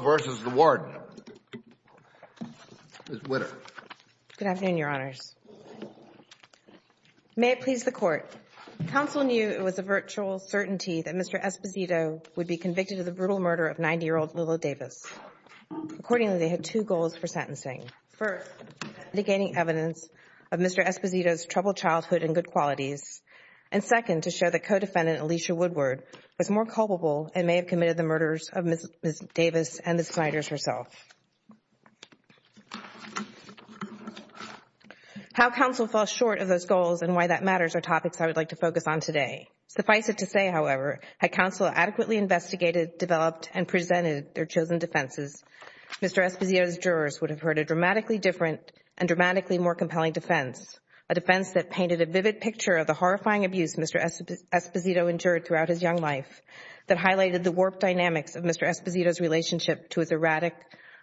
Good afternoon, Your Honors. May it please the Court, Counsel knew it was a virtual certainty that Mr. Esposito would be convicted of the brutal murder of 90-year-old Lilla Davis. Accordingly, they had two goals for sentencing. First, to gain evidence of Mr. Esposito's troubled childhood and good qualities. And second, to show that co-defendant Alicia Woodward was more culpable and may have committed the murders of Ms. Davis and the Snyders herself. How counsel fell short of those goals and why that matters are topics I would like to focus on today. Suffice it to say, however, had counsel adequately investigated, developed, and presented their chosen defenses, Mr. Esposito's jurors would have heard a dramatically different and dramatically more compelling defense, a defense that painted a vivid picture of the horrifying abuse Mr. dynamics of Mr. Esposito's relationship to his erratic,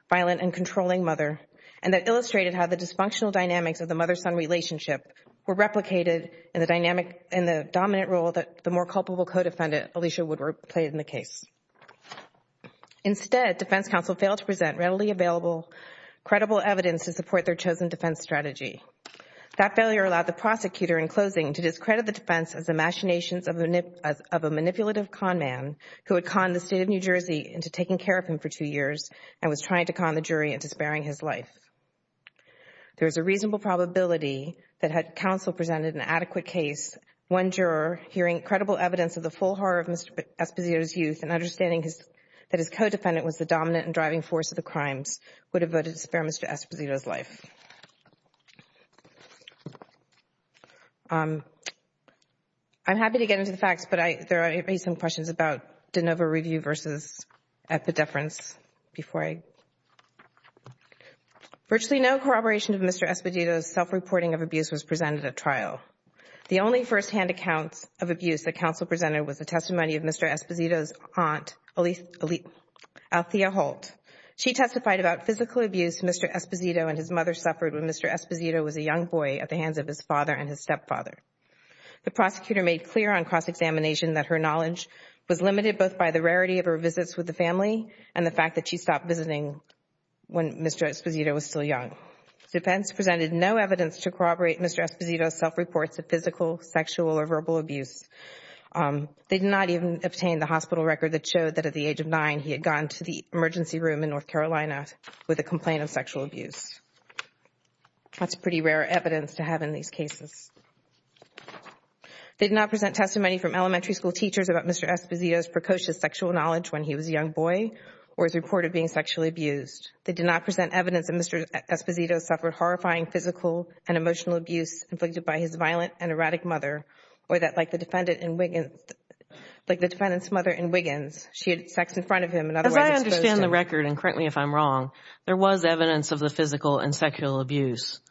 violent, and controlling mother and that illustrated how the dysfunctional dynamics of the mother-son relationship were replicated in the dominant role that the more culpable co-defendant, Alicia Woodward, played in the case. Instead, defense counsel failed to present readily available, credible evidence to support their chosen defense strategy. That failure allowed the prosecutor in closing to discredit the defense as the machinations of a manipulative conman who had conned the state of New Jersey into taking care of him for two years and was trying to con the jury into sparing his life. There is a reasonable probability that had counsel presented an adequate case, one juror hearing credible evidence of the full horror of Mr. Esposito's youth and understanding that his co-defendant was the dominant and driving force of the crimes would have voted to spare Mr. Esposito's life. I'm happy to get into the facts, but there are some questions about de novo review versus epidefference before I... Virtually no corroboration of Mr. Esposito's self-reporting of abuse was presented at trial. The only firsthand accounts of abuse that counsel presented was the testimony of Mr. Esposito's aunt, Althea Holt. She testified about physical abuse Mr. Esposito and his mother suffered when Mr. Esposito was a young boy at the hands of his father and his stepfather. The prosecutor made clear on cross-examination that her knowledge was limited both by the rarity of her visits with the family and the fact that she stopped visiting when Mr. Esposito was still young. The defense presented no evidence to corroborate Mr. Esposito's self-reports of physical, sexual, or verbal abuse. They did not even obtain the hospital record that showed that at the age of nine he had gone to the emergency room in North Carolina with a complaint of sexual abuse. That's pretty rare evidence to have in these cases. They did not present testimony from elementary school teachers about Mr. Esposito's precocious sexual knowledge when he was a young boy or his report of being sexually abused. They did not present evidence that Mr. Esposito suffered horrifying physical and emotional abuse inflicted by his violent and erratic mother or that like the defendant's mother in Wiggins, she had sex in front of him and otherwise exposed him. As I understand the record, and correct me if I'm wrong, there was evidence of the physical and sexual abuse,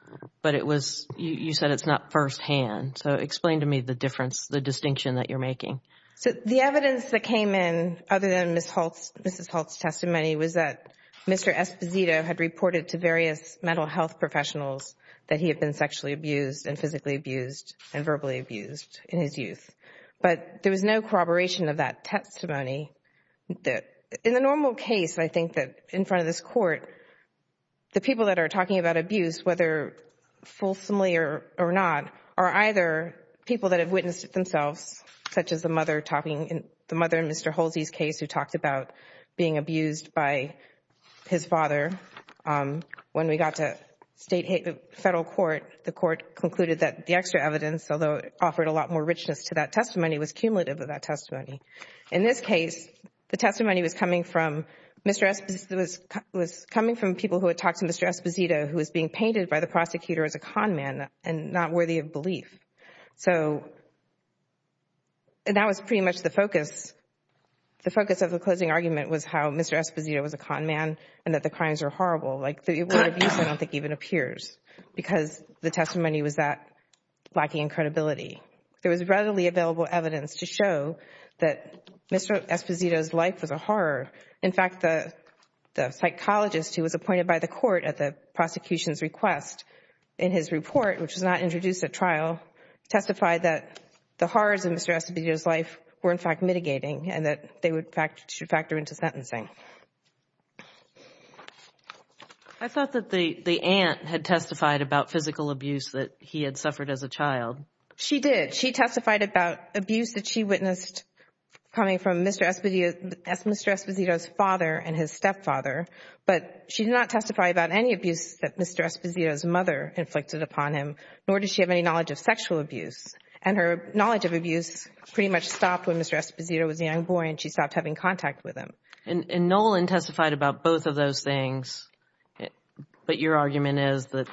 but it was, you said it's not firsthand. So explain to me the difference, the distinction that you're making. So the evidence that came in other than Mrs. Holt's testimony was that Mr. Esposito had reported to various mental health professionals that he had been sexually abused and physically abused and verbally abused in his youth. But there was no corroboration of that testimony. In the normal case, I think that in front of this Court, the people that are talking about abuse, whether fulsomely or not, are either people that have witnessed it themselves, such as the mother talking, the mother in Mr. Holsey's case, who talked about being abused by his father. When we got to federal court, the court concluded that the extra evidence, although it offered a lot more richness to that testimony, was cumulative of that testimony. In this case, the testimony was coming from people who had talked to Mr. Esposito, who was being painted by the prosecutor as a con man and not worthy of belief. So that was pretty much the focus. The focus of the closing argument was how Mr. Esposito was a con man and that the crimes are horrible. The word abuse I don't think even appears because the testimony was lacking in credibility. There was readily available evidence to show that Mr. Esposito's life was a horror. In fact, the psychologist who was appointed by the court at the prosecution's request in his report, which was not introduced at trial, testified that the horrors in Mr. Esposito's life were in fact mitigating and that they should factor into sentencing. I thought that the aunt had testified about physical abuse that he had suffered as a child. She did. She testified about abuse that she witnessed coming from Mr. Esposito's father and his stepfather, but she did not testify about any abuse that Mr. Esposito's mother inflicted upon him, nor did she have any knowledge of sexual abuse. And her knowledge of abuse pretty much stopped when Mr. Esposito was a young boy and she stopped having contact with him. And Nolan testified about both of those things, but your argument is that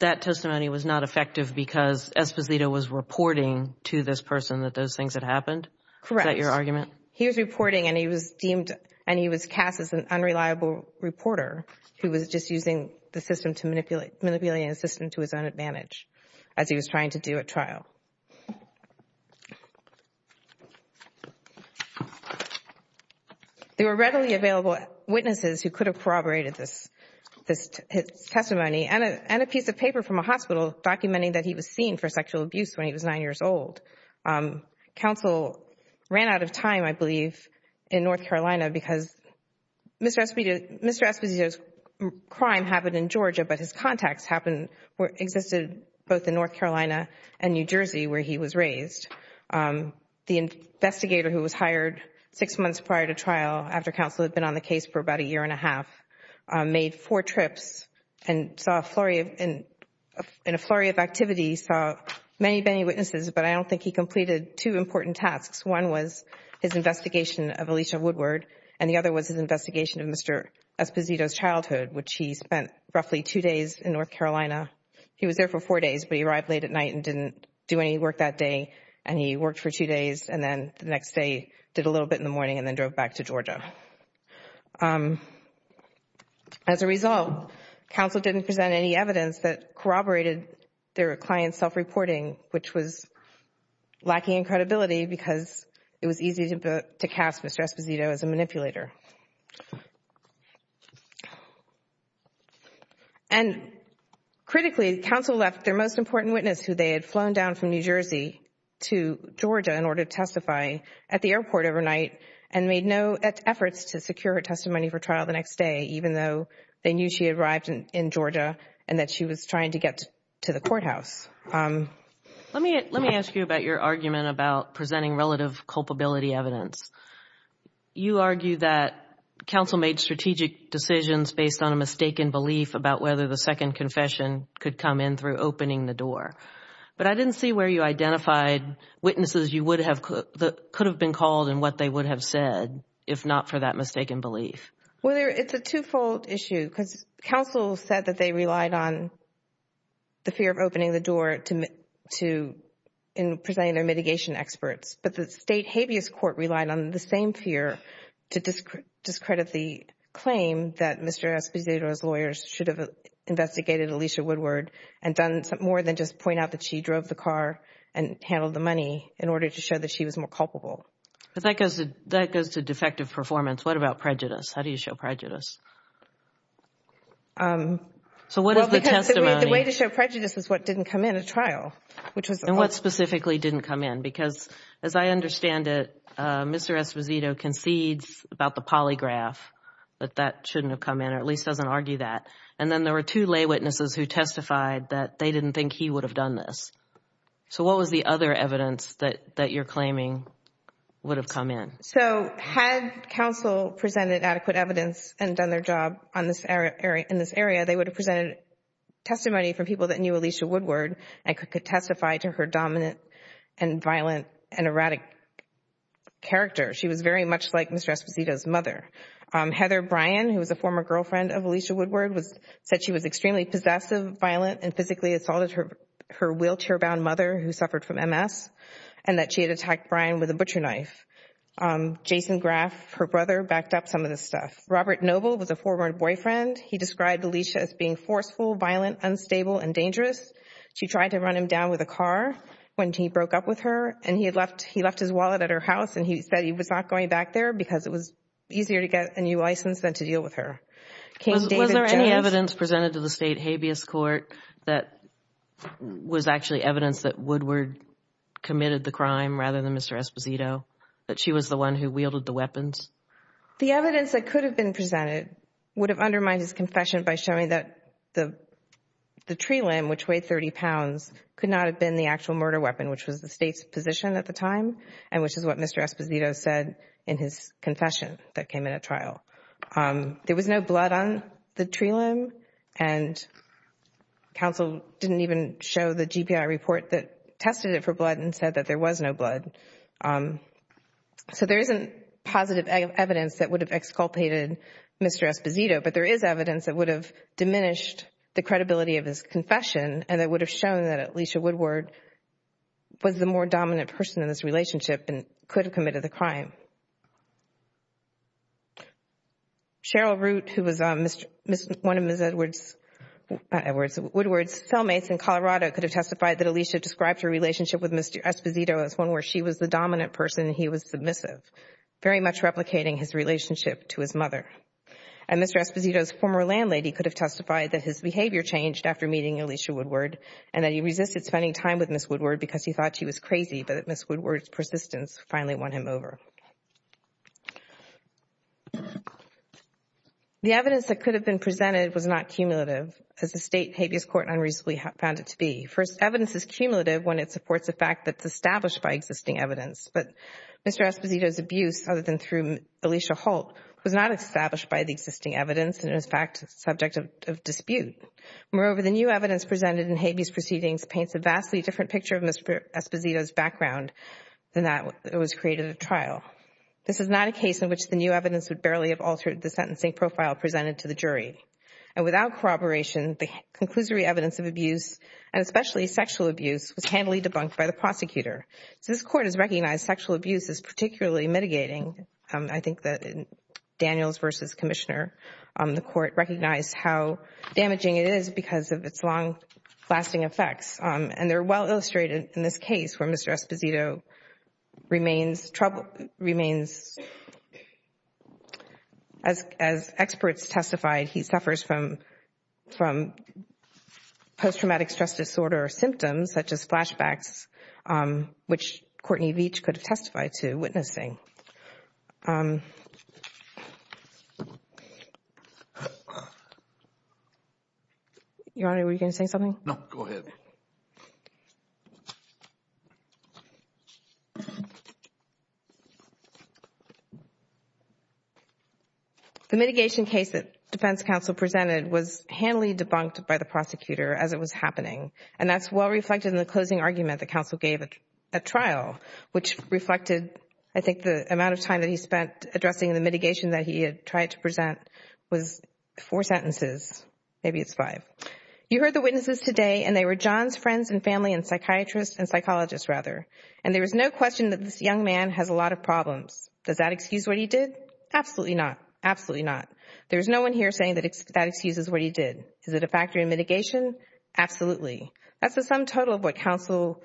that testimony was not effective because Esposito was reporting to this person that those things had happened? Correct. Is that your argument? He was reporting and he was deemed and he was cast as an unreliable reporter who was just using the system to manipulate, manipulating the system to his own advantage as he was trying to do at trial. There were readily available witnesses who could have corroborated this testimony and a piece of paper from a hospital documenting that he was seen for sexual abuse when he was nine years old. Counsel ran out of time, I believe, in North Carolina because Mr. Esposito's crime happened in Georgia, but his contacts happened, existed both in North Carolina and New Jersey where he was raised. The investigator who was hired six months prior to trial after counsel had been on the case for about a year and a half made four trips and saw a flurry of, in a flurry of he completed two important tasks. One was his investigation of Alicia Woodward and the other was his investigation of Mr. Esposito's childhood which he spent roughly two days in North Carolina. He was there for four days, but he arrived late at night and didn't do any work that day and he worked for two days and then the next day did a little bit in the morning and then drove back to Georgia. As a result, counsel didn't present any evidence that corroborated their client's self-reporting which was lacking in credibility because it was easy to cast Mr. Esposito as a manipulator. And critically, counsel left their most important witness who they had flown down from New Jersey to Georgia in order to testify at the airport overnight and made no efforts to secure her testimony for trial the next day even though they knew she arrived in Georgia and that she was trying to get to the courthouse. Let me ask you about your argument about presenting relative culpability evidence. You argue that counsel made strategic decisions based on a mistaken belief about whether the second confession could come in through opening the door. But I didn't see where you identified witnesses you would have, that could have been called and what they would have said if not for that mistaken belief. Well, it's a two-fold issue because counsel said that they relied on the fear of opening the door in presenting their mitigation experts but the state habeas court relied on the same fear to discredit the claim that Mr. Esposito's lawyers should have investigated Alicia Woodward and done more than just point out that she drove the car and handled the money in order to show that she was more culpable. That goes to defective performance. What about prejudice? How do you show prejudice? So what is the testimony? Well, because the way to show prejudice is what didn't come in at trial, which was the court. And what specifically didn't come in? Because as I understand it, Mr. Esposito concedes about the polygraph that that shouldn't have come in or at least doesn't argue that. And then there were two lay witnesses who testified that they didn't think he would have done this. So what was the other evidence that you're claiming would have come in? So had counsel presented adequate evidence and done their job in this area, they would have presented testimony from people that knew Alicia Woodward and could testify to her dominant and violent and erratic character. She was very much like Mr. Esposito's mother. Heather Bryan, who was a former girlfriend of Alicia Woodward, said she was extremely possessive, violent and physically assaulted her wheelchair-bound mother who suffered from Jason Graff. Her brother backed up some of this stuff. Robert Noble was a former boyfriend. He described Alicia as being forceful, violent, unstable and dangerous. She tried to run him down with a car when he broke up with her and he had left, he left his wallet at her house and he said he was not going back there because it was easier to get a new license than to deal with her. Was there any evidence presented to the state habeas court that was actually evidence that Mr. Esposito, that she was the one who wielded the weapons? The evidence that could have been presented would have undermined his confession by showing that the tree limb, which weighed 30 pounds, could not have been the actual murder weapon, which was the state's position at the time and which is what Mr. Esposito said in his confession that came in at trial. There was no blood on the tree limb and counsel didn't even show the GPI report that tested it for blood and said that there was no blood. So there isn't positive evidence that would have exculpated Mr. Esposito, but there is evidence that would have diminished the credibility of his confession and that would have shown that Alicia Woodward was the more dominant person in this relationship and could have committed the crime. Cheryl Root, who was one of Ms. Woodward's cellmates in Colorado, could have testified that Alicia described her relationship with Mr. Esposito as one where she was the dominant person and he was submissive, very much replicating his relationship to his mother. And Mr. Esposito's former landlady could have testified that his behavior changed after meeting Alicia Woodward and that he resisted spending time with Ms. Woodward because he thought she was crazy, but that Ms. Woodward's persistence finally won him over. The evidence that could have been presented was not cumulative, as the state habeas court unreasonably found it to be. First, evidence is cumulative when it supports a fact that is established by existing evidence. But Mr. Esposito's abuse, other than through Alicia Holt, was not established by the existing evidence and is, in fact, subject of dispute. Moreover, the new evidence presented in habeas proceedings paints a vastly different picture of Mr. Esposito's background than that it was created at trial. This is not a case in which the new evidence would barely have altered the sentencing profile presented to the jury. And without corroboration, the conclusory evidence of abuse, and especially sexual abuse, was handily debunked by the prosecutor. This Court has recognized sexual abuse is particularly mitigating. I think that in Daniels v. Commissioner, the Court recognized how damaging it is because of its long-lasting effects. And they're well illustrated in this case where Mr. Esposito remains, as experts testified, he suffers from post-traumatic stress disorder symptoms, such as flashbacks, which Courtney Veach could testify to witnessing. Your Honor, were you going to say something? No. The new evidence presented was handily debunked by the prosecutor as it was happening. And that's well reflected in the closing argument that counsel gave at trial, which reflected, I think, the amount of time that he spent addressing the mitigation that he had tried to present was four sentences, maybe it's five. You heard the witnesses today, and they were John's friends and family and psychiatrists and psychologists, rather. And there is no question that this young man has a lot of problems. Does that excuse what he did? Absolutely not. Absolutely not. There is no one here saying that that excuse is what he did. Is it a factor in mitigation? Absolutely. That's the sum total of what counsel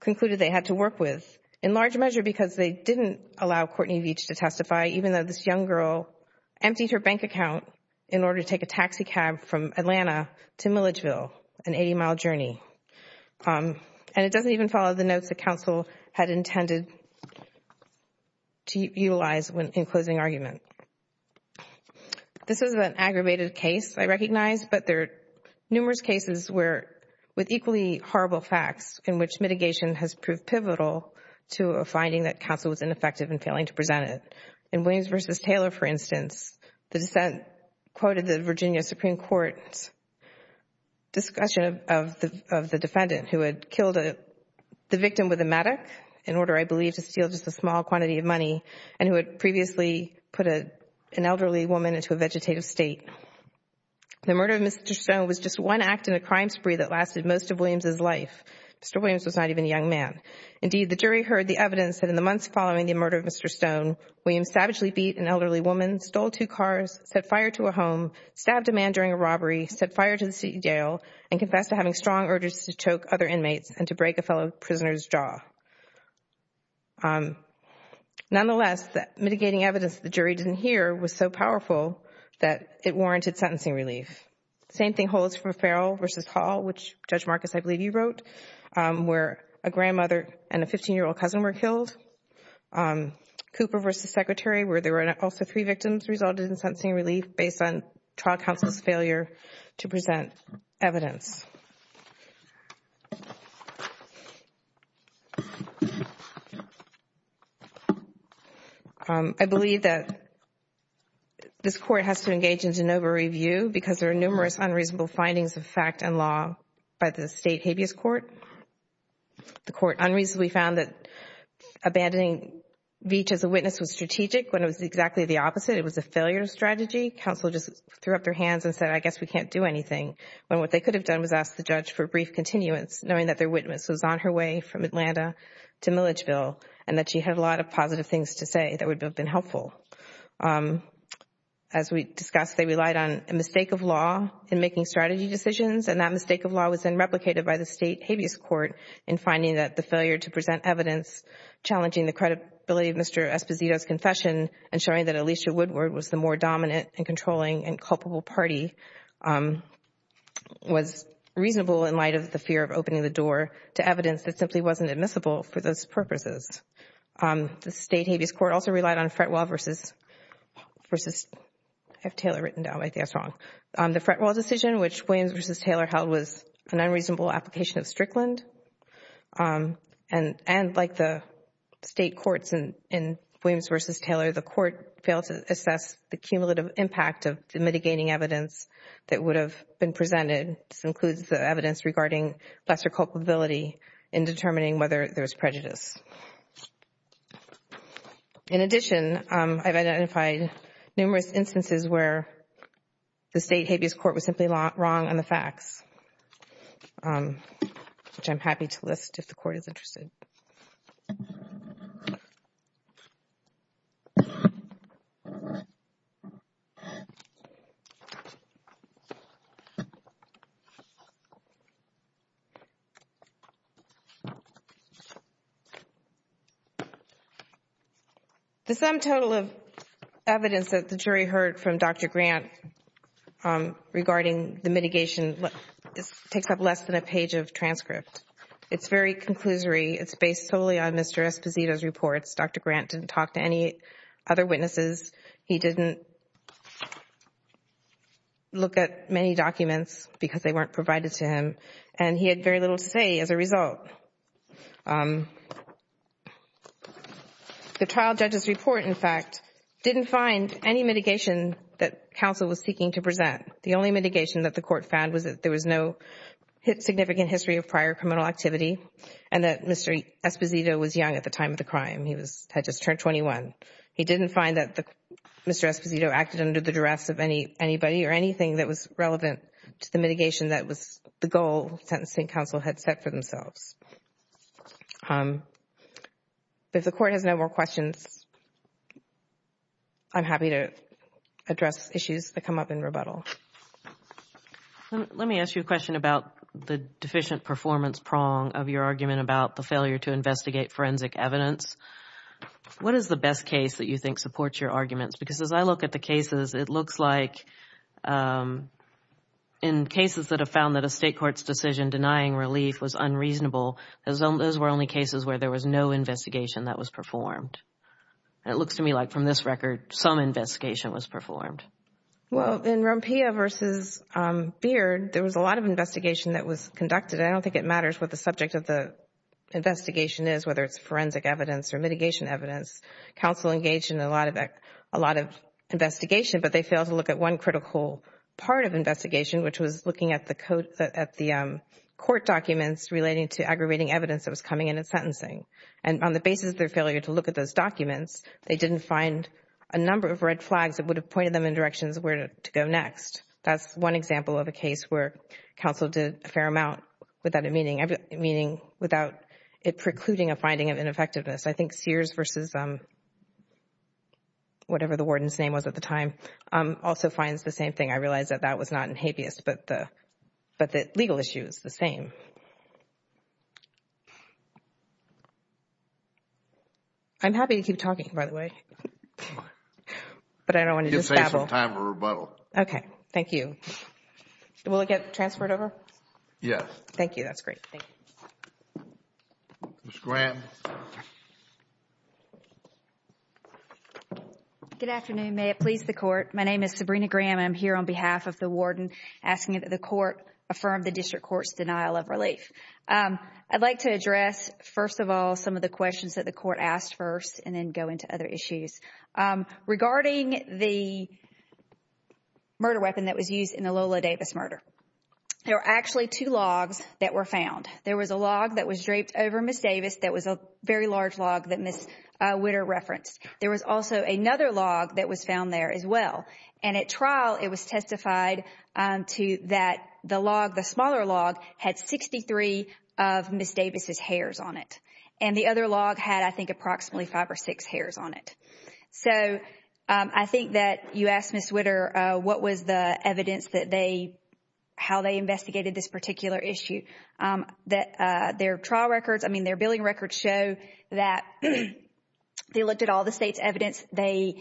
concluded they had to work with, in large measure because they didn't allow Courtney Veach to testify, even though this young girl emptied her bank account in order to take a taxi cab from Atlanta to Milledgeville, an 80-mile journey. And it doesn't even follow the notes that counsel had intended to utilize in closing argument. This is an aggravated case, I recognize, but there are numerous cases where, with equally horrible facts, in which mitigation has proved pivotal to a finding that counsel was ineffective in failing to present it. In Williams v. Taylor, for instance, the dissent quoted the Virginia Supreme Court's discussion of the defendant who had killed the victim with a medic in order, I believe, to steal just a small quantity of money and who had previously put an elderly woman into a vegetative state. The murder of Mr. Stone was just one act in a crime spree that lasted most of Williams' life. Mr. Williams was not even a young man. Indeed, the jury heard the evidence that in the months following the murder of Mr. Stone, Williams savagely beat an elderly woman, stole two cars, set fire to a home, stabbed a man during a robbery, set fire to the city jail, and confessed to having strong urges to choke other inmates and to break a fellow prisoner's jaw. Nonetheless, mitigating evidence that the jury didn't hear was so powerful that it warranted sentencing relief. The same thing holds for Farrell v. Hall, which Judge Marcus, I believe you wrote, where a grandmother and a 15-year-old cousin were killed. Cooper v. Secretary, where there were also three victims, resulted in sentencing relief based on trial counsel's failure to present evidence. I believe that this Court has to engage in de novo review because there are numerous unreasonable findings of fact and law by the State Habeas Court. The Court unreasonably found that abandoning Veatch as a witness was strategic when it was exactly the opposite. It was a failure of strategy. Counsel just threw up their hands and said, I guess we can't do anything, when what they could have done was ask the judge for brief continuance, knowing that their witness was on her way from Atlanta to Milledgeville and that she had a lot of positive things to say that would have been helpful. As we discussed, they relied on a mistake of law in making strategy decisions and that mistake of law was then replicated by the State Habeas Court in finding that the failure to present evidence challenging the credibility of Mr. Esposito's confession and showing that Alicia Woodward was the more dominant and controlling and culpable party was reasonable in light of the fear of opening the door to evidence that simply wasn't admissible for those purposes. The State Habeas Court also relied on Fretwell v. Taylor. The Fretwell decision, which Williams v. Taylor held was an unreasonable application of Strickland and like the State Courts in Williams v. Taylor, the Court failed to assess the cumulative impact of mitigating evidence that would have been presented, this includes the evidence regarding lesser culpability in determining whether there was prejudice. In addition, I've identified numerous instances where the State Habeas Court was simply wrong on the facts, which I'm happy to list if the Court is interested. The sum total of evidence that the jury heard from Dr. Grant regarding the mitigation takes up less than a page of transcript. It's very conclusory. It's based solely on Mr. Esposito's reports. Dr. Grant didn't talk to any other witnesses. He didn't look at many documents because they weren't provided to him and he had very little to say as a result. The trial judge's report, in fact, didn't find any mitigation that counsel was seeking to present. The only mitigation that the Court found was that there was no significant history of prior time of the crime. He had just turned 21. He didn't find that Mr. Esposito acted under the duress of anybody or anything that was relevant to the mitigation that was the goal sentencing counsel had set for themselves. If the Court has no more questions, I'm happy to address issues that come up in rebuttal. Let me ask you a question about the deficient performance prong of your argument about the What is the best case that you think supports your arguments? Because as I look at the cases, it looks like in cases that have found that a state court's decision denying relief was unreasonable, those were only cases where there was no investigation that was performed. It looks to me like from this record, some investigation was performed. Well, in Rompilla v. Beard, there was a lot of investigation that was conducted. I don't think it matters what the subject of the investigation is, whether it's forensic evidence or mitigation evidence. Counsel engaged in a lot of investigation, but they failed to look at one critical part of investigation, which was looking at the court documents relating to aggravating evidence that was coming in at sentencing. On the basis of their failure to look at those documents, they didn't find a number of red flags that would have pointed them in directions where to go next. That's one example of a case where counsel did a fair amount without it precluding a effectiveness. I think Sears v. whatever the warden's name was at the time, also finds the same thing. I realize that that was not in habeas, but the legal issue is the same. I'm happy to keep talking, by the way, but I don't want to just babble. Give the State some time to rebuttal. Okay. Thank you. Will it get transferred over? Yes. Thank you. That's great. Thank you. Ms. Graham. Good afternoon. May it please the Court. My name is Sabrina Graham. I'm here on behalf of the warden asking that the Court affirm the District Court's denial of relief. I'd like to address, first of all, some of the questions that the Court asked first and then go into other issues. Regarding the murder weapon that was used in the Lola Davis murder, there were actually two logs that were found. There was a log that was draped over Ms. Davis that was a very large log that Ms. Witter referenced. There was also another log that was found there as well. At trial, it was testified to that the log, the smaller log, had 63 of Ms. Davis's hairs on it. The other log had, I think, approximately five or six hairs on it. I think that you asked Ms. Witter what was the evidence that they, how they investigated this particular issue. Their trial records, I mean, their billing records show that they looked at all the state's evidence. They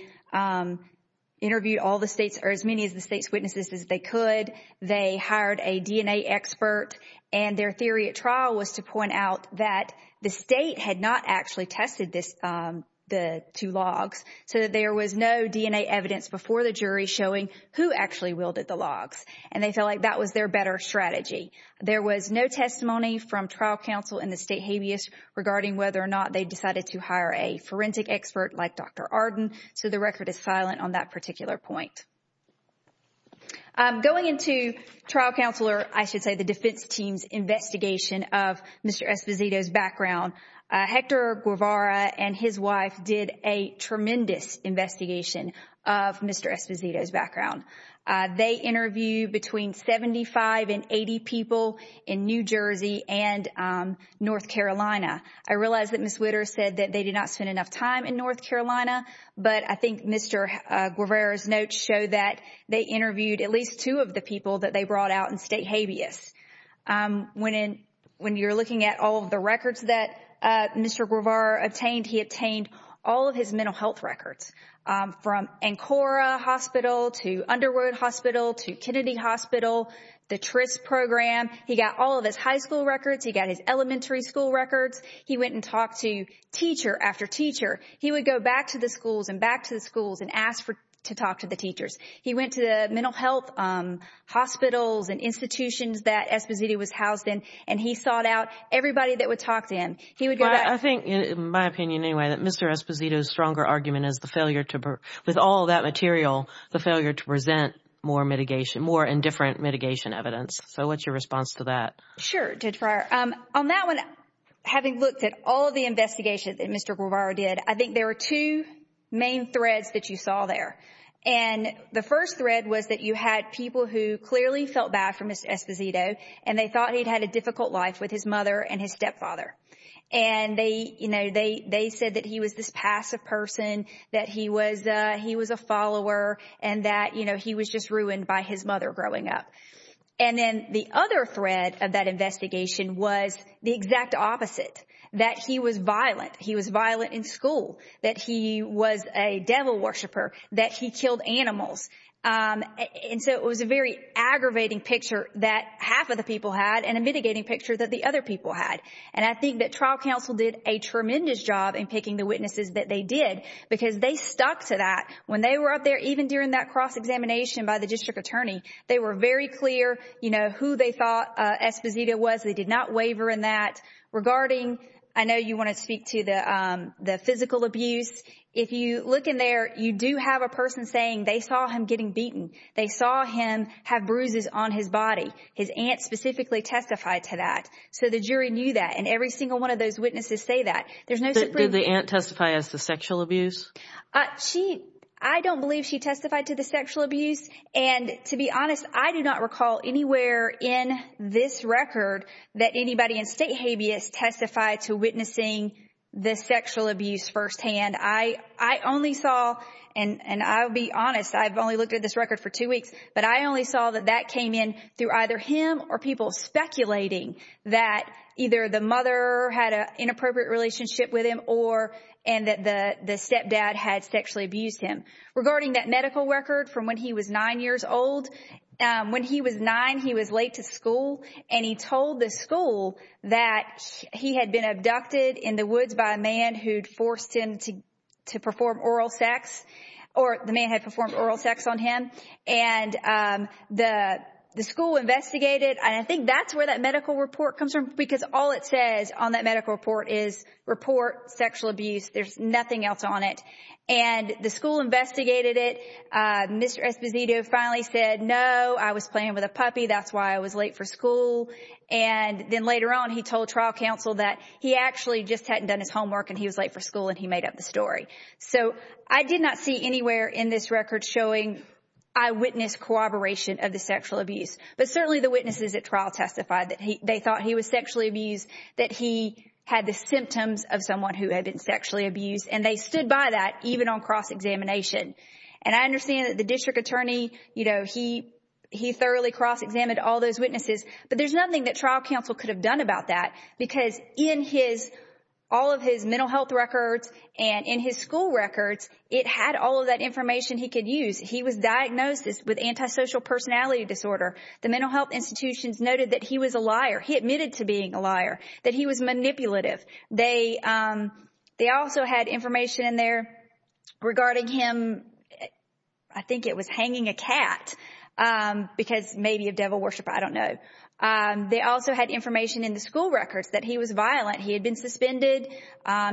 interviewed all the states or as many of the state's witnesses as they could. They hired a DNA expert. Their theory at trial was to point out that the state had not actually tested the two logs so that there was no DNA evidence before the jury showing who actually wielded the logs. They felt like that was their better strategy. There was no testimony from trial counsel in the state habeas regarding whether or not they decided to hire a forensic expert like Dr. Arden, so the record is silent on that particular point. Going into trial counselor, I should say, the defense team's investigation of Mr. Esposito's background, Hector Guevara and his wife did a tremendous investigation of Mr. Esposito's background. They interviewed between 75 and 80 people in New Jersey and North Carolina. I realize that Ms. Witter said that they did not spend enough time in North Carolina, but I think Mr. Guevara's notes show that they interviewed at least two of the people that they brought out in state habeas. When you're looking at all of the records that Mr. Guevara obtained, he obtained all of his mental health records from Ancora Hospital to Underwood Hospital to Kennedy Hospital, the TRIS program. He got all of his high school records. He got his elementary school records. He went and talked to teacher after teacher. He would go back to the schools and back to the schools and ask to talk to the teachers. He went to the mental health hospitals and institutions that Esposito was housed in, and he sought out everybody that would talk to him. I think, in my opinion anyway, that Mr. Esposito's stronger argument is the failure to, with all of that material, the failure to present more indifferent mitigation evidence. So what's your response to that? Sure, Judge Breyer. On that one, having looked at all of the investigations that Mr. Guevara did, I think there were two main threads that you saw there. The first thread was that you had people who clearly felt bad for Mr. Esposito, and they said that he was this passive person, that he was a follower, and that he was just ruined by his mother growing up. And then the other thread of that investigation was the exact opposite, that he was violent. He was violent in school, that he was a devil worshiper, that he killed animals. And so it was a very aggravating picture that half of the people had and a mitigating picture that the other people had. And I think that trial counsel did a tremendous job in picking the witnesses that they did because they stuck to that. When they were up there, even during that cross-examination by the district attorney, they were very clear, you know, who they thought Esposito was. They did not waver in that. Regarding, I know you want to speak to the physical abuse. If you look in there, you do have a person saying they saw him getting beaten. They saw him have bruises on his body. His aunt specifically testified to that. So the jury knew that. And every single one of those witnesses say that. There's no subpoena. Did the aunt testify as to sexual abuse? I don't believe she testified to the sexual abuse. And to be honest, I do not recall anywhere in this record that anybody in state habeas testified to witnessing the sexual abuse firsthand. I only saw, and I'll be honest, I've only looked at this record for two weeks, but I that either the mother had an inappropriate relationship with him or, and that the stepdad had sexually abused him. Regarding that medical record from when he was nine years old, when he was nine, he was late to school and he told the school that he had been abducted in the woods by a man who'd forced him to perform oral sex, or the man had performed oral sex on him. And the school investigated. I think that's where that medical report comes from because all it says on that medical report is report sexual abuse. There's nothing else on it. And the school investigated it. Mr. Esposito finally said, no, I was playing with a puppy. That's why I was late for school. And then later on, he told trial counsel that he actually just hadn't done his homework and he was late for school and he made up the story. So I did not see anywhere in this record showing eyewitness corroboration of the sexual abuse, but certainly the witnesses at trial testified that they thought he was sexually abused, that he had the symptoms of someone who had been sexually abused, and they stood by that even on cross-examination. And I understand that the district attorney, you know, he, he thoroughly cross-examined all those witnesses, but there's nothing that trial counsel could have done about that because in his, all of his mental health records and in his school records, it had all of that information he could use. He was diagnosed with antisocial personality disorder. The mental health institutions noted that he was a liar. He admitted to being a liar, that he was manipulative. They, they also had information in there regarding him. I think it was hanging a cat because maybe of devil worship, I don't know. They also had information in the school records that he was violent. He had been suspended.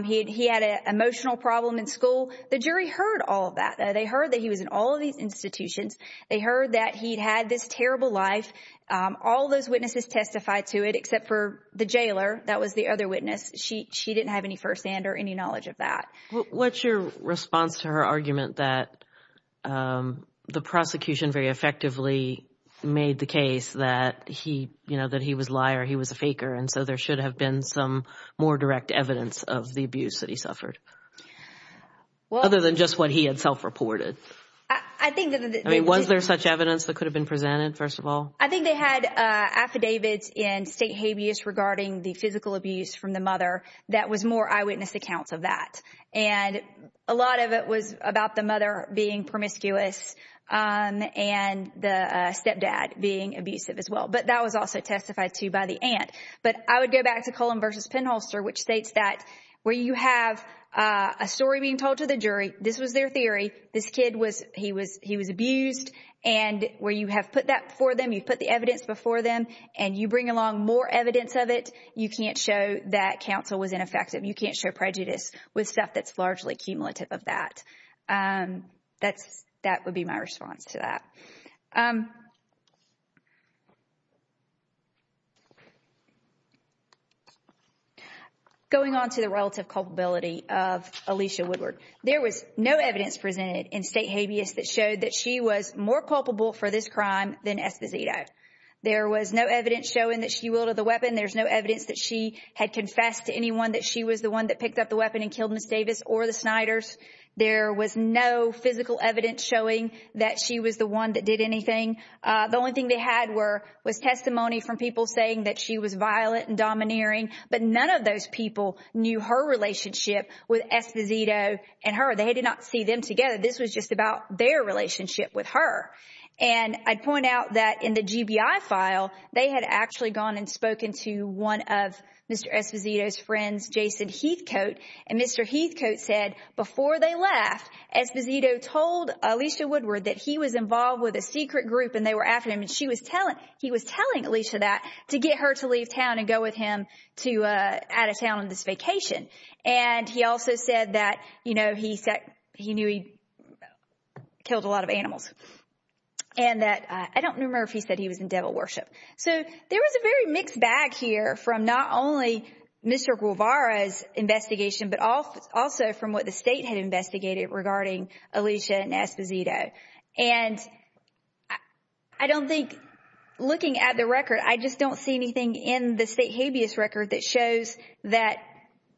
He had an emotional problem in school. The jury heard all of that. They heard that he was in all of these institutions. They heard that he'd had this terrible life. All those witnesses testified to it except for the jailer. That was the other witness. She didn't have any firsthand or any knowledge of that. What's your response to her argument that the prosecution very effectively made the conclusion that he, you know, that he was a liar, he was a faker, and so there should have been some more direct evidence of the abuse that he suffered other than just what he had self-reported? I mean, was there such evidence that could have been presented, first of all? I think they had affidavits in state habeas regarding the physical abuse from the mother that was more eyewitness accounts of that. A lot of it was about the mother being promiscuous and the stepdad being abusive as well. But that was also testified to by the aunt. But I would go back to Cullen v. Penholster, which states that where you have a story being told to the jury, this was their theory, this kid, he was abused, and where you have put that before them, you've put the evidence before them, and you bring along more evidence of it, you can't show that counsel was ineffective. You can't show prejudice with stuff that's largely cumulative of that. That would be my response to that. Going on to the relative culpability of Alicia Woodward. There was no evidence presented in state habeas that showed that she was more culpable for this crime than Esposito. There was no evidence showing that she wielded the weapon. There's no evidence that she had confessed to anyone that she was the one that picked up the weapon and killed Ms. Davis or the Sniders. There was no physical evidence showing that she was the one that did anything. The only thing they had was testimony from people saying that she was violent and domineering, but none of those people knew her relationship with Esposito and her. They did not see them together. This was just about their relationship with her. And I'd point out that in the GBI file, they had actually gone and spoken to one of Mr. Esposito's friends, Jason Heathcote. And Mr. Heathcote said, before they left, Esposito told Alicia Woodward that he was involved with a secret group and they were after him and he was telling Alicia that to get her to leave town and go with him to out of town on this vacation. And he also said that, you know, he said he knew he killed a lot of animals. And that I don't remember if he said he was in devil worship. So there was a very mixed bag here from not only Mr. Guevara's investigation, but also from what the state had investigated regarding Alicia and Esposito. And I don't think, looking at the record, I just don't see anything in the state habeas record that shows that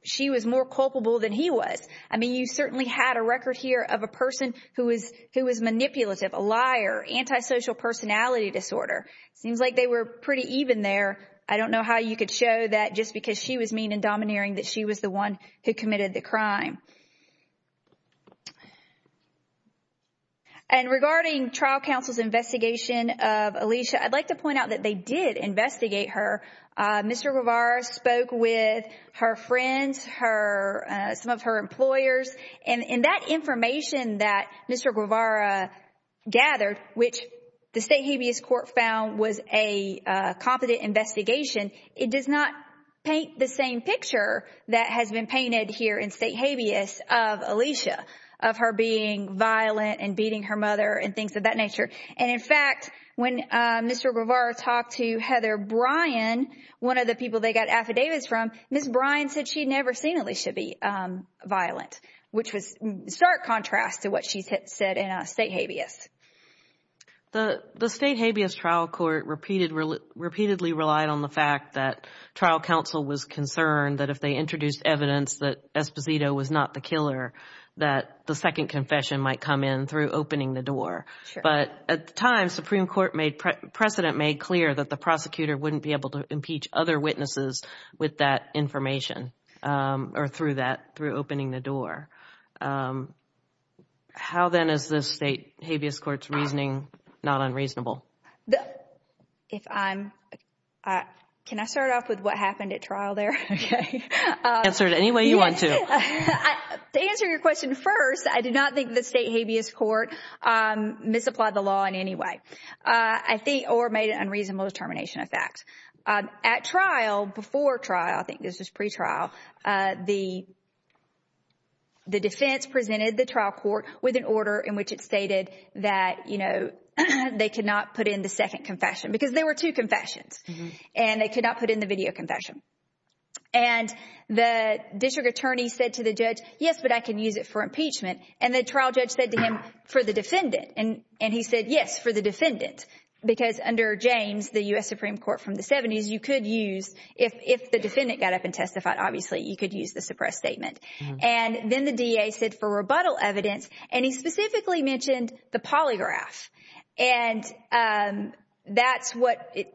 she was more culpable than he was. I mean, you certainly had a record here of a person who was manipulative, a liar, antisocial personality disorder. Seems like they were pretty even there. I don't know how you could show that just because she was mean and domineering that she was the one who committed the crime. And regarding trial counsel's investigation of Alicia, I'd like to point out that they did investigate her. Mr. Guevara spoke with her friends, her, some of her employers, and that information that Mr. Guevara gathered, which the state habeas court found was a competent investigation, it does not paint the same picture that has been painted here in state habeas of Alicia, of her being violent and beating her mother and things of that nature. And in fact, when Mr. Guevara talked to Heather Bryan, one of the people they got affidavits from, Ms. Bryan said she'd never seen Alicia be violent, which was stark contrast to what she said in state habeas. The state habeas trial court repeatedly relied on the fact that trial counsel was concerned that if they introduced evidence that Esposito was not the killer, that the second confession might come in through opening the door. But at the time, Supreme Court precedent made clear that the prosecutor wouldn't be able to impeach other witnesses with that information or through that, through opening the door. How then is the state habeas court's reasoning not unreasonable? If I'm, can I start off with what happened at trial there? Okay. Answer it any way you want to. To answer your question first, I did not think the state habeas court misapplied the law in any way. I think, or made an unreasonable determination of facts. At trial, before trial, I think this was pre-trial, the defense presented the trial court with an order in which it stated that, you know, they could not put in the second confession because there were two confessions and they could not put in the video confession. And the district attorney said to the judge, yes, but I can use it for impeachment. And the trial judge said to him, for the defendant. And he said, yes, for the defendant. Because under James, the U.S. Supreme Court from the 70s, you could use, if the defendant got up and testified, obviously you could use the suppressed statement. And then the DA said for rebuttal evidence, and he specifically mentioned the polygraph. And that's what it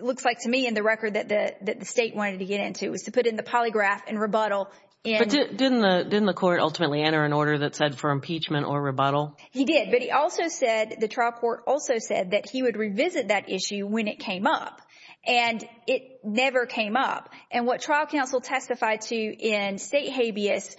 looks like to me in the record that the state wanted to get into, was to put in the polygraph and rebuttal. But didn't the court ultimately enter an order that said for impeachment or rebuttal? He did. But he also said, the trial court also said that he would revisit that issue when it came up. And it never came up. And what trial counsel testified to in state habeas,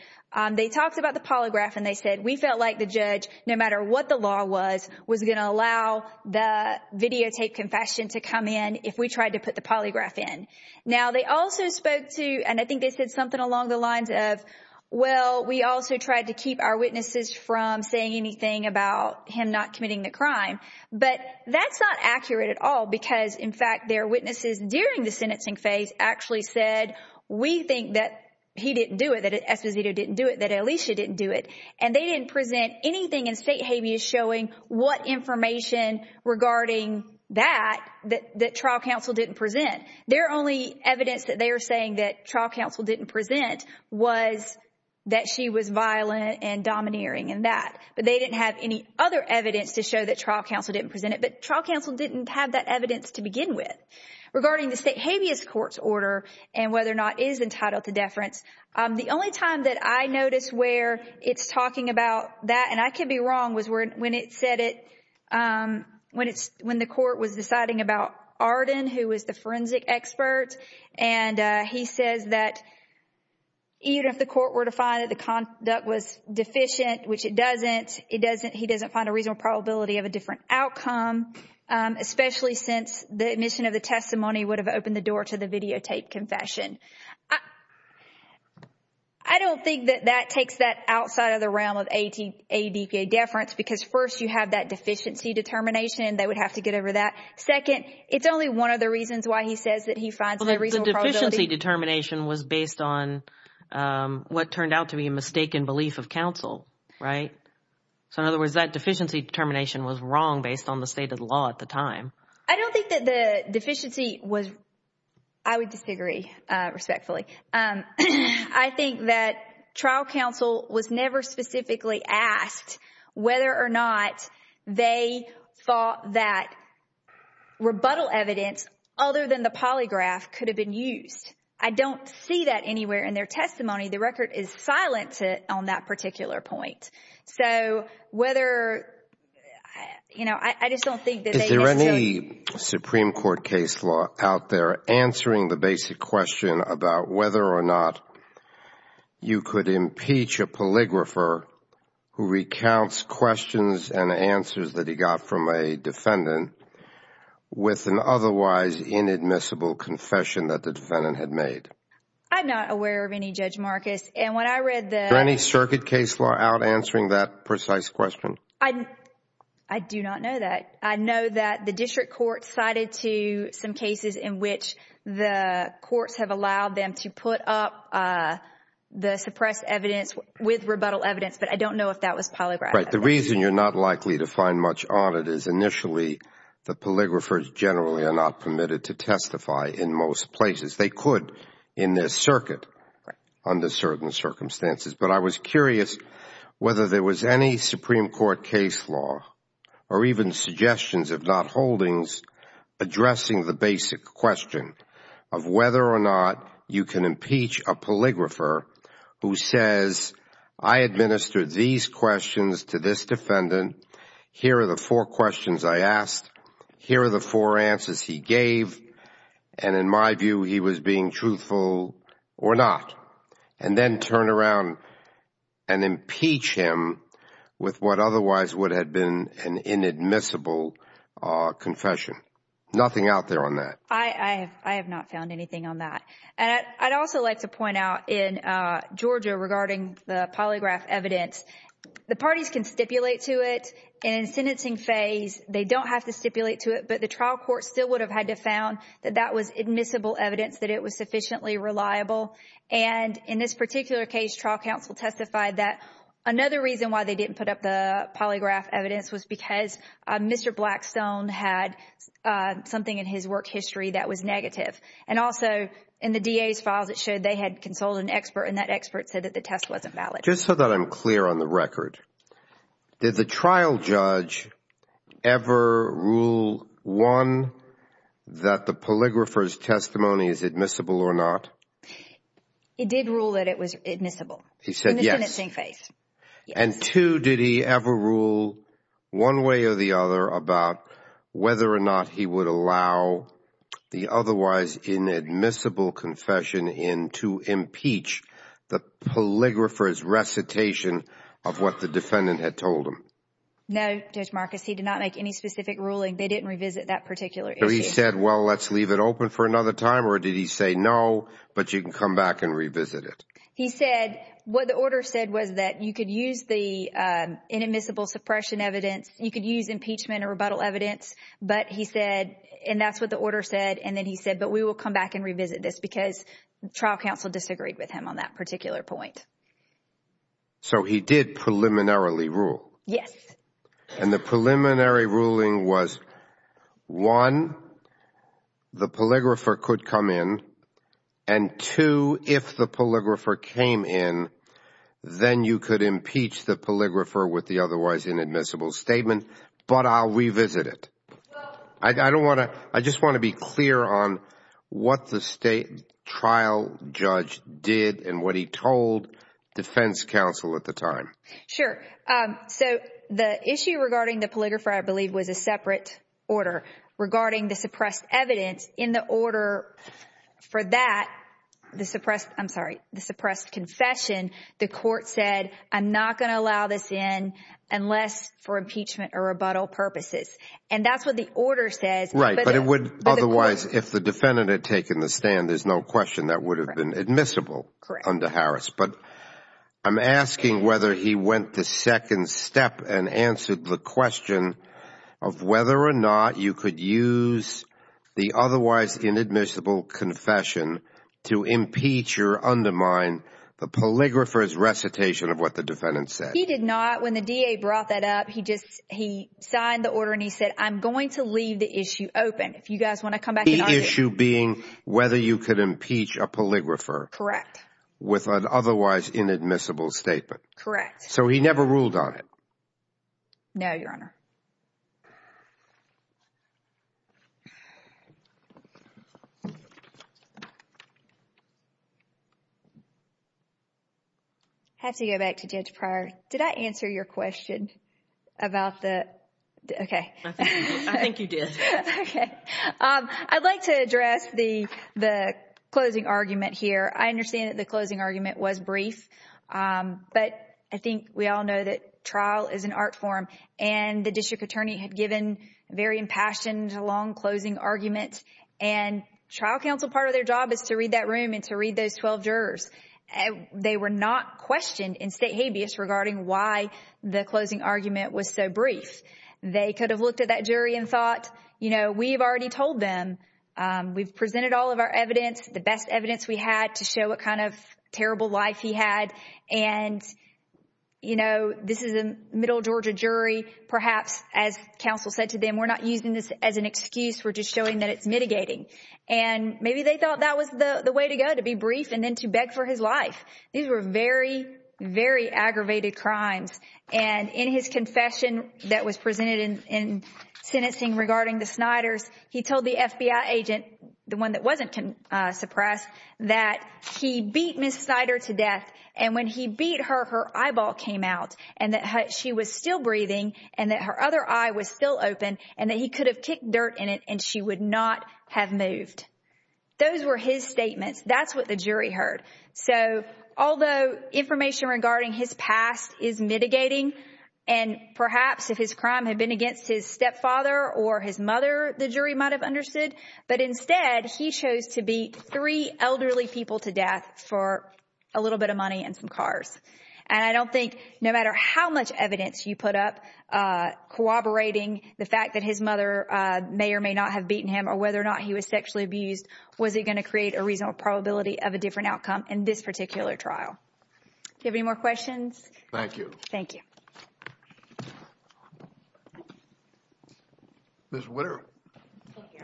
they talked about the polygraph and they said, we felt like the judge, no matter what the law was, was going to allow the videotape confession to come in if we tried to put the polygraph in. Now, they also spoke to, and I think they said something along the lines of, well, we also tried to keep our witnesses from saying anything about him not committing the crime. But that's not accurate at all because, in fact, their witnesses during the sentencing phase actually said, we think that he didn't do it, that Esposito didn't do it, that Alicia didn't do it. And they didn't present anything in state habeas showing what information regarding that that trial counsel didn't present. Their only evidence that they are saying that trial counsel didn't present was that she was violent and domineering and that. But they didn't have any other evidence to show that trial counsel didn't present it. But trial counsel didn't have that evidence to begin with. Regarding the state habeas court's order and whether or not it is entitled to deference, the only time that I noticed where it's talking about that, and I could be wrong, was when the court was deciding about Arden, who was the forensic expert, and he says that even if the court were to find that the conduct was deficient, which it doesn't, he doesn't find a reasonable probability of a different outcome, especially since the admission of the testimony would have opened the door to the videotaped confession. I don't think that that takes that outside of the realm of ADPA deference because first you have that deficiency determination. They would have to get over that. Second, it's only one of the reasons why he says that he finds a reasonable probability. The deficiency determination was based on what turned out to be a mistaken belief of counsel, right? So in other words, that deficiency determination was wrong based on the state of the law at the time. I don't think that the deficiency was, I would disagree respectfully. I think that trial counsel was never specifically asked whether or not they thought that rebuttal evidence other than the polygraph could have been used. I don't see that anywhere in their testimony. The record is silent on that particular point. So whether, you know, I just don't think that they just took— Whether or not you could impeach a polygrapher who recounts questions and answers that he got from a defendant with an otherwise inadmissible confession that the defendant had made. I'm not aware of any, Judge Marcus. And when I read the— Is there any circuit case law out answering that precise question? I do not know that. I know that the district court cited to some cases in which the courts have allowed them to put up the suppressed evidence with rebuttal evidence. But I don't know if that was polygraph evidence. Right. The reason you're not likely to find much on it is initially the polygraphers generally are not permitted to testify in most places. They could in this circuit under certain circumstances. But I was curious whether there was any Supreme Court case law or even suggestions, if not polygrapher who says, I administered these questions to this defendant. Here are the four questions I asked. Here are the four answers he gave. And in my view, he was being truthful or not, and then turn around and impeach him with what otherwise would have been an inadmissible confession. Nothing out there on that. I have not found anything on that. And I'd also like to point out in Georgia regarding the polygraph evidence, the parties can stipulate to it in sentencing phase. They don't have to stipulate to it, but the trial court still would have had to found that that was admissible evidence that it was sufficiently reliable. And in this particular case, trial counsel testified that another reason why they didn't put up the polygraph evidence was because Mr. Blackstone had something in his work history that was negative. And also in the DA's files, it showed they had consulted an expert and that expert said that the test wasn't valid. Just so that I'm clear on the record, did the trial judge ever rule, one, that the polygrapher's testimony is admissible or not? He did rule that it was admissible in the sentencing phase. And two, did he ever rule one way or the other about whether or not he would allow the otherwise inadmissible confession in to impeach the polygrapher's recitation of what the defendant had told him? No, Judge Marcus. He did not make any specific ruling. They didn't revisit that particular issue. So he said, well, let's leave it open for another time? Or did he say, no, but you can come back and revisit it? He said, what the order said was that you could use the inadmissible suppression evidence. You could use impeachment or rebuttal evidence. But he said, and that's what the order said. And then he said, but we will come back and revisit this because the trial counsel disagreed with him on that particular point. So he did preliminarily rule? Yes. And the preliminary ruling was, one, the polygrapher could come in. And two, if the polygrapher came in, then you could impeach the polygrapher with the otherwise inadmissible statement, but I'll revisit it. I don't want to, I just want to be clear on what the state trial judge did and what he told defense counsel at the time. Sure. So the issue regarding the polygrapher, I believe, was a separate order regarding the suppressed evidence. In the order for that, the suppressed, I'm sorry, the suppressed confession, the court said, I'm not going to allow this in unless for impeachment or rebuttal purposes. And that's what the order says. Right. Otherwise, if the defendant had taken the stand, there's no question that would have been admissible under Harris. But I'm asking whether he went the second step and answered the question of whether or not you could use the otherwise inadmissible confession to impeach or undermine the polygrapher's recitation of what the defendant said. He did not. When the DA brought that up, he just, he signed the order and he said, I'm going to leave the issue open. If you guys want to come back and argue. The issue being whether you could impeach a polygrapher. Correct. With an otherwise inadmissible statement. Correct. So he never ruled on it. No, Your Honor. I have to go back to Judge Pryor. Did I answer your question about the, okay. I think you did. I'd like to address the closing argument here. I understand that the closing argument was brief, but I think we all know that trial is an art form and the district attorney had given very impassioned, long closing arguments and trial counsel, part of their job is to read that room and to read those 12 jurors. They were not questioned in state habeas regarding why the closing argument was so brief. They could have looked at that jury and thought, you know, we've already told them, we've presented all of our evidence, the best evidence we had to show what kind of terrible life he had. And, you know, this is a middle Georgia jury, perhaps as counsel said to them, we're not using this as an excuse. We're just showing that it's mitigating. And maybe they thought that was the way to go, to be brief and then to beg for his life. These were very, very aggravated crimes. And in his confession that was presented in sentencing regarding the Snyders, he told the FBI agent, the one that wasn't suppressed, that he beat Ms. Snyder to death. And when he beat her, her eyeball came out and that she was still breathing and that her other eye was still open and that he could have kicked dirt in it and she would not have moved. Those were his statements. That's what the jury heard. So although information regarding his past is mitigating, and perhaps if his crime had been against his stepfather or his mother, the jury might have understood, but instead he chose to beat three elderly people to death for a little bit of money and some cars. And I don't think no matter how much evidence you put up, corroborating the fact that his was sexually abused, was it going to create a reasonable probability of a different outcome in this particular trial? Do you have any more questions? Thank you. Thank you. Ms. Witter. Thank you.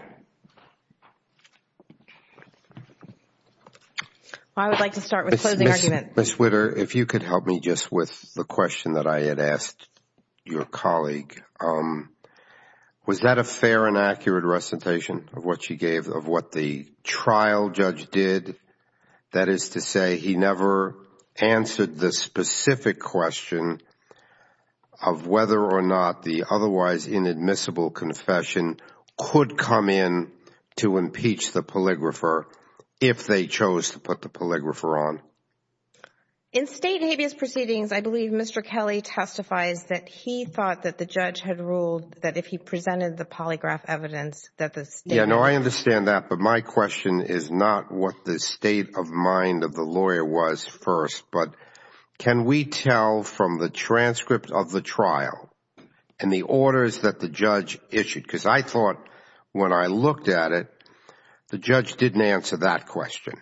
I would like to start with a closing argument. Ms. Witter, if you could help me just with the question that I had asked your colleague. Was that a fair and accurate recitation of what she gave, of what the trial judge did? That is to say, he never answered the specific question of whether or not the otherwise inadmissible confession could come in to impeach the polygrapher if they chose to put the polygrapher on. In state and habeas proceedings, I believe Mr. Kelly testifies that he thought that the judge had ruled that if he presented the polygraph evidence that the state... Yeah, no, I understand that, but my question is not what the state of mind of the lawyer was first, but can we tell from the transcript of the trial and the orders that the judge issued, because I thought when I looked at it, the judge didn't answer that question.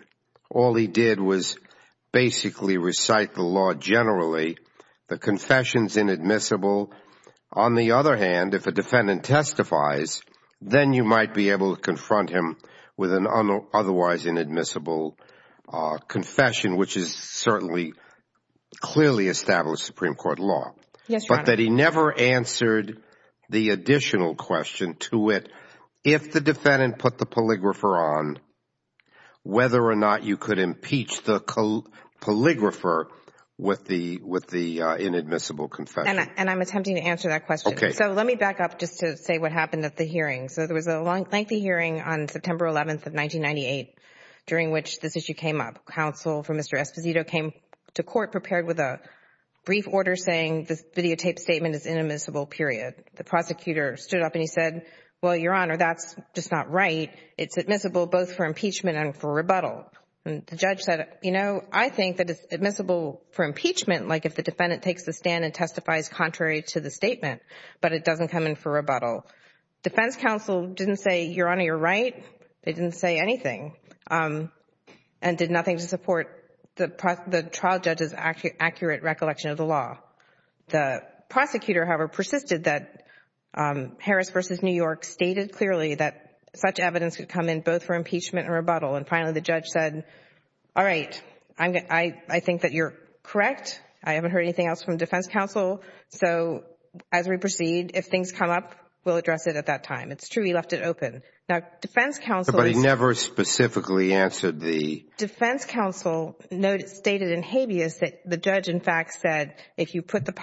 All he did was basically recite the law generally, the confession is inadmissible. On the other hand, if a defendant testifies, then you might be able to confront him with an otherwise inadmissible confession, which is certainly clearly established Supreme Court law, but that he never answered the additional question to it if the defendant put the polygrapher on, whether or not you could impeach the polygrapher with the inadmissible confession. And I'm attempting to answer that question. Okay. So let me back up just to say what happened at the hearing. So there was a lengthy hearing on September 11th of 1998 during which this issue came up. Counsel for Mr. Esposito came to court prepared with a brief order saying this videotaped statement is inadmissible, period. The prosecutor stood up and he said, well, Your Honor, that's just not right. It's admissible both for impeachment and for rebuttal. And the judge said, you know, I think that it's admissible for impeachment, like if the defendant takes the stand and testifies contrary to the statement, but it doesn't come in for rebuttal. Defense counsel didn't say, Your Honor, you're right. They didn't say anything and did nothing to support the trial judge's accurate recollection of the law. The prosecutor, however, persisted that Harris v. New York stated clearly that such evidence could come in both for impeachment and rebuttal. And finally, the judge said, all right, I think that you're correct. I haven't heard anything else from defense counsel. So as we proceed, if things come up, we'll address it at that time. It's true he left it open. But he never specifically answered the... put the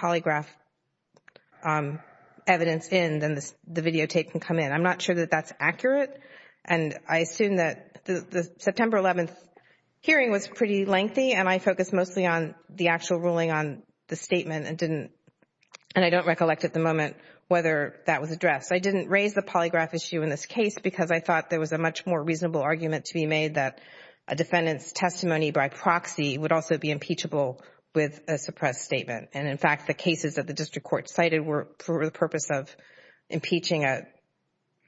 polygraph evidence in, then the videotape can come in. I'm not sure that that's accurate. And I assume that the September 11th hearing was pretty lengthy and I focused mostly on the actual ruling on the statement and didn't... and I don't recollect at the moment whether that was addressed. I didn't raise the polygraph issue in this case because I thought there was a much more reasonable argument to be made that a defendant's testimony by proxy would also be impeachable with a suppressed statement. In fact, the cases that the district court cited were for the purpose of impeaching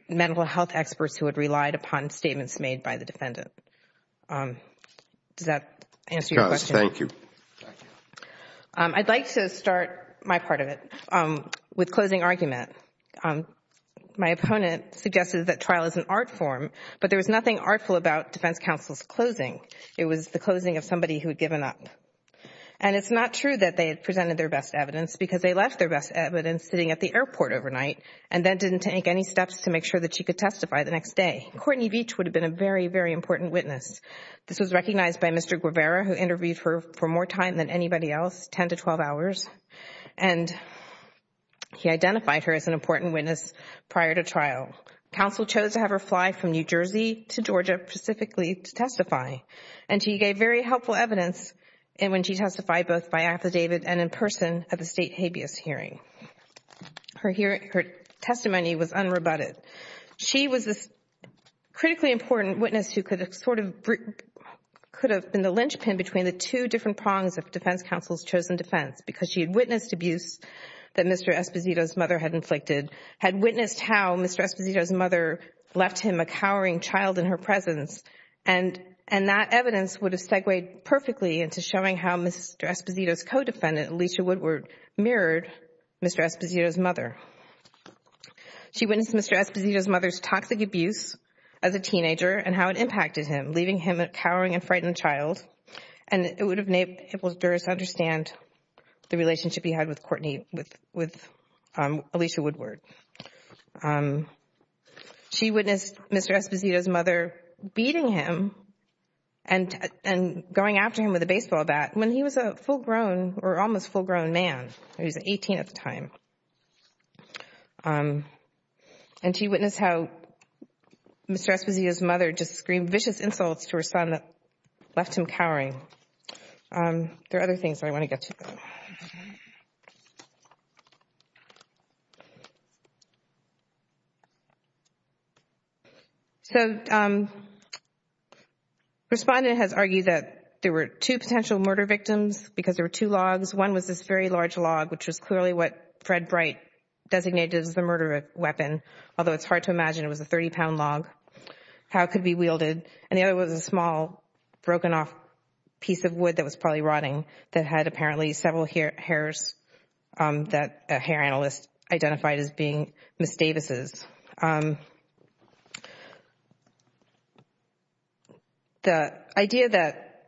medical health experts who had relied upon statements made by the defendant. Does that answer your question? Thank you. I'd like to start my part of it with closing argument. My opponent suggested that trial is an art form, but there was nothing artful about defense counsel's closing. It was the closing of somebody who had given up. And it's not true that they had presented their best evidence because they left their best evidence sitting at the airport overnight and then didn't take any steps to make sure that she could testify the next day. Courtney Veach would have been a very, very important witness. This was recognized by Mr. Guevara, who interviewed her for more time than anybody else, 10 to 12 hours. And he identified her as an important witness prior to trial. Counsel chose to have her fly from New Jersey to Georgia specifically to testify. And she gave very helpful evidence when she testified both by affidavit and in person at the state habeas hearing. Her testimony was unrebutted. She was a critically important witness who could have been the linchpin between the two different prongs of defense counsel's chosen defense because she had witnessed abuse that Mr. Esposito's mother had inflicted, had witnessed how Mr. Esposito's mother left him a cowering child in her presence. And that evidence would have segued perfectly into showing how Mr. Esposito's co-defendant, Alicia Woodward, mirrored Mr. Esposito's mother. She witnessed Mr. Esposito's mother's toxic abuse as a teenager and how it impacted him, leaving him a cowering and frightened child. And it would have enabled jurors to understand the relationship he had with Courtney, with Alicia Woodward. She witnessed Mr. Esposito's mother beating him and going after him with a baseball bat when he was a full grown or almost full grown man. He was 18 at the time. And she witnessed how Mr. Esposito's mother just screamed vicious insults to her son that left him cowering. There are other things I want to get to. So respondent has argued that there were two potential murder victims because there were two logs. One was this very large log, which was clearly what Fred Bright designated as the murder weapon, although it's hard to imagine it was a 30 pound log, how it could be wielded. And the other was a small broken off piece of wood that was probably rotting that had several hairs that a hair analyst identified as being Ms. Davis's. The idea that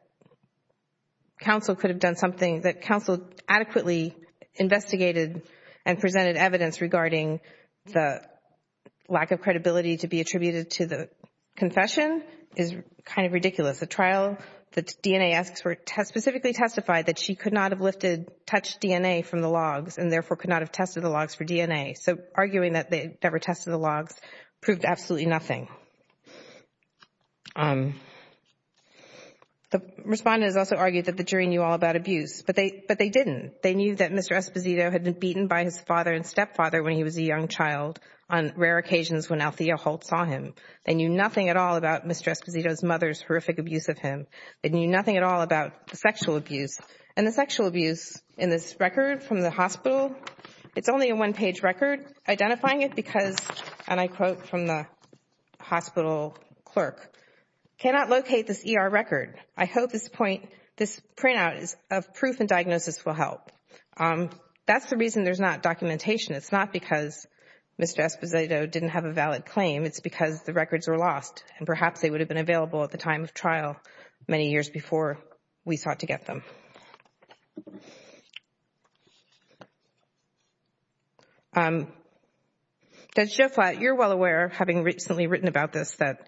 counsel could have done something, that counsel adequately investigated and presented evidence regarding the lack of credibility to be attributed to the confession is kind of ridiculous. The trial the DNA expert specifically testified that she could not have lifted, touched DNA from the logs and therefore could not have tested the logs for DNA. So arguing that they never tested the logs proved absolutely nothing. The respondent has also argued that the jury knew all about abuse, but they didn't. They knew that Mr. Esposito had been beaten by his father and stepfather when he was a young child on rare occasions when Althea Holt saw him. They knew nothing at all about Mr. Esposito's mother's horrific abuse of him. They knew nothing at all about the sexual abuse. And the sexual abuse in this record from the hospital, it's only a one page record. Identifying it because, and I quote from the hospital clerk, cannot locate this ER record. I hope this point, this printout of proof and diagnosis will help. That's the reason there's not documentation. It's not because Mr. Esposito didn't have a valid claim. It's because the records were lost and perhaps they would have been available at the time of trial many years before we sought to get them. Judge Joflat, you're well aware, having recently written about this, that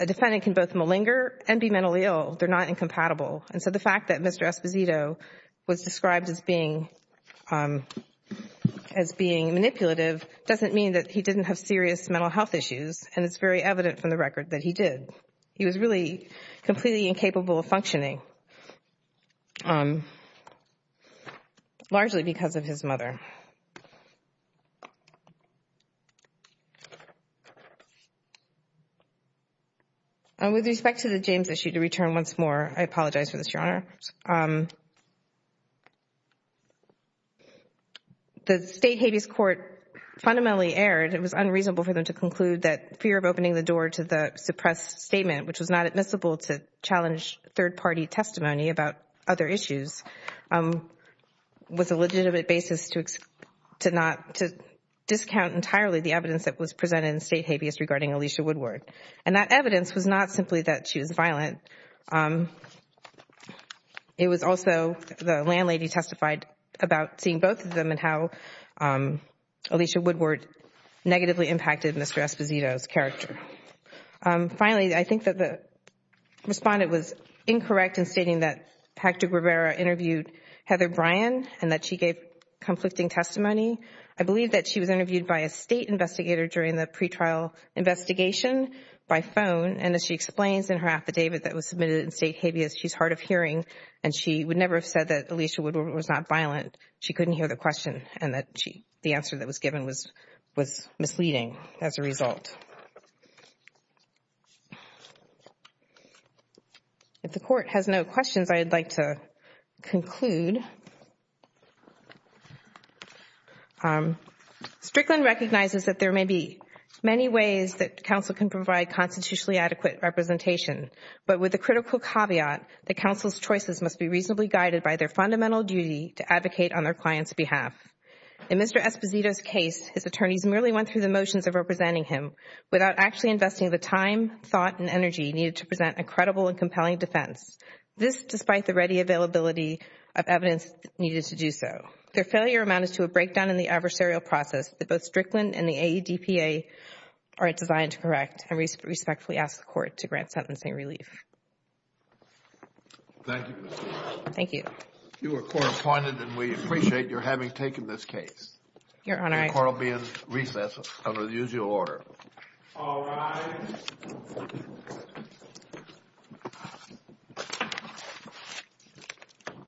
a defendant can both malinger and be mentally ill. They're not incompatible. And so the fact that Mr. Esposito was described as being manipulative doesn't mean that he didn't have serious mental health issues. And it's very evident from the record that he did. He was really completely incapable of functioning, largely because of his mother. And with respect to the James issue, to return once more, I apologize for this, Your Honor. The state habeas court fundamentally erred. It was unreasonable for them to conclude that fear of opening the door to the suppressed statement, which was not admissible to challenge third-party testimony about other issues, was a legitimate basis to discount entirely the evidence that was presented in state habeas regarding Alicia Woodward. And that evidence was not simply that she was violent. It was also the landlady testified about seeing both of them and how Alicia Woodward negatively impacted Mr. Esposito's character. Finally, I think that the respondent was incorrect in stating that Patrick Rivera interviewed Heather Bryan and that she gave conflicting testimony. I believe that she was interviewed by a state investigator during the pretrial investigation by phone. And as she explains in her affidavit that was submitted in state habeas, she's hard of hearing and she would never have said that Alicia Woodward was not violent. She couldn't hear the question and that the answer that was given was misleading as a result. If the Court has no questions, I'd like to conclude. Strickland recognizes that there may be many ways that counsel can provide constitutionally adequate representation. But with the critical caveat that counsel's choices must be reasonably guided by their fundamental duty to advocate on their client's behalf. In Mr. Esposito's case, his attorneys merely went through the motions of representing him without actually investing the time, thought, and energy needed to present a credible and compelling defense. This despite the ready availability of evidence needed to do so. Their failure amounted to a breakdown in the adversarial process that both Strickland and to grant sentencing relief.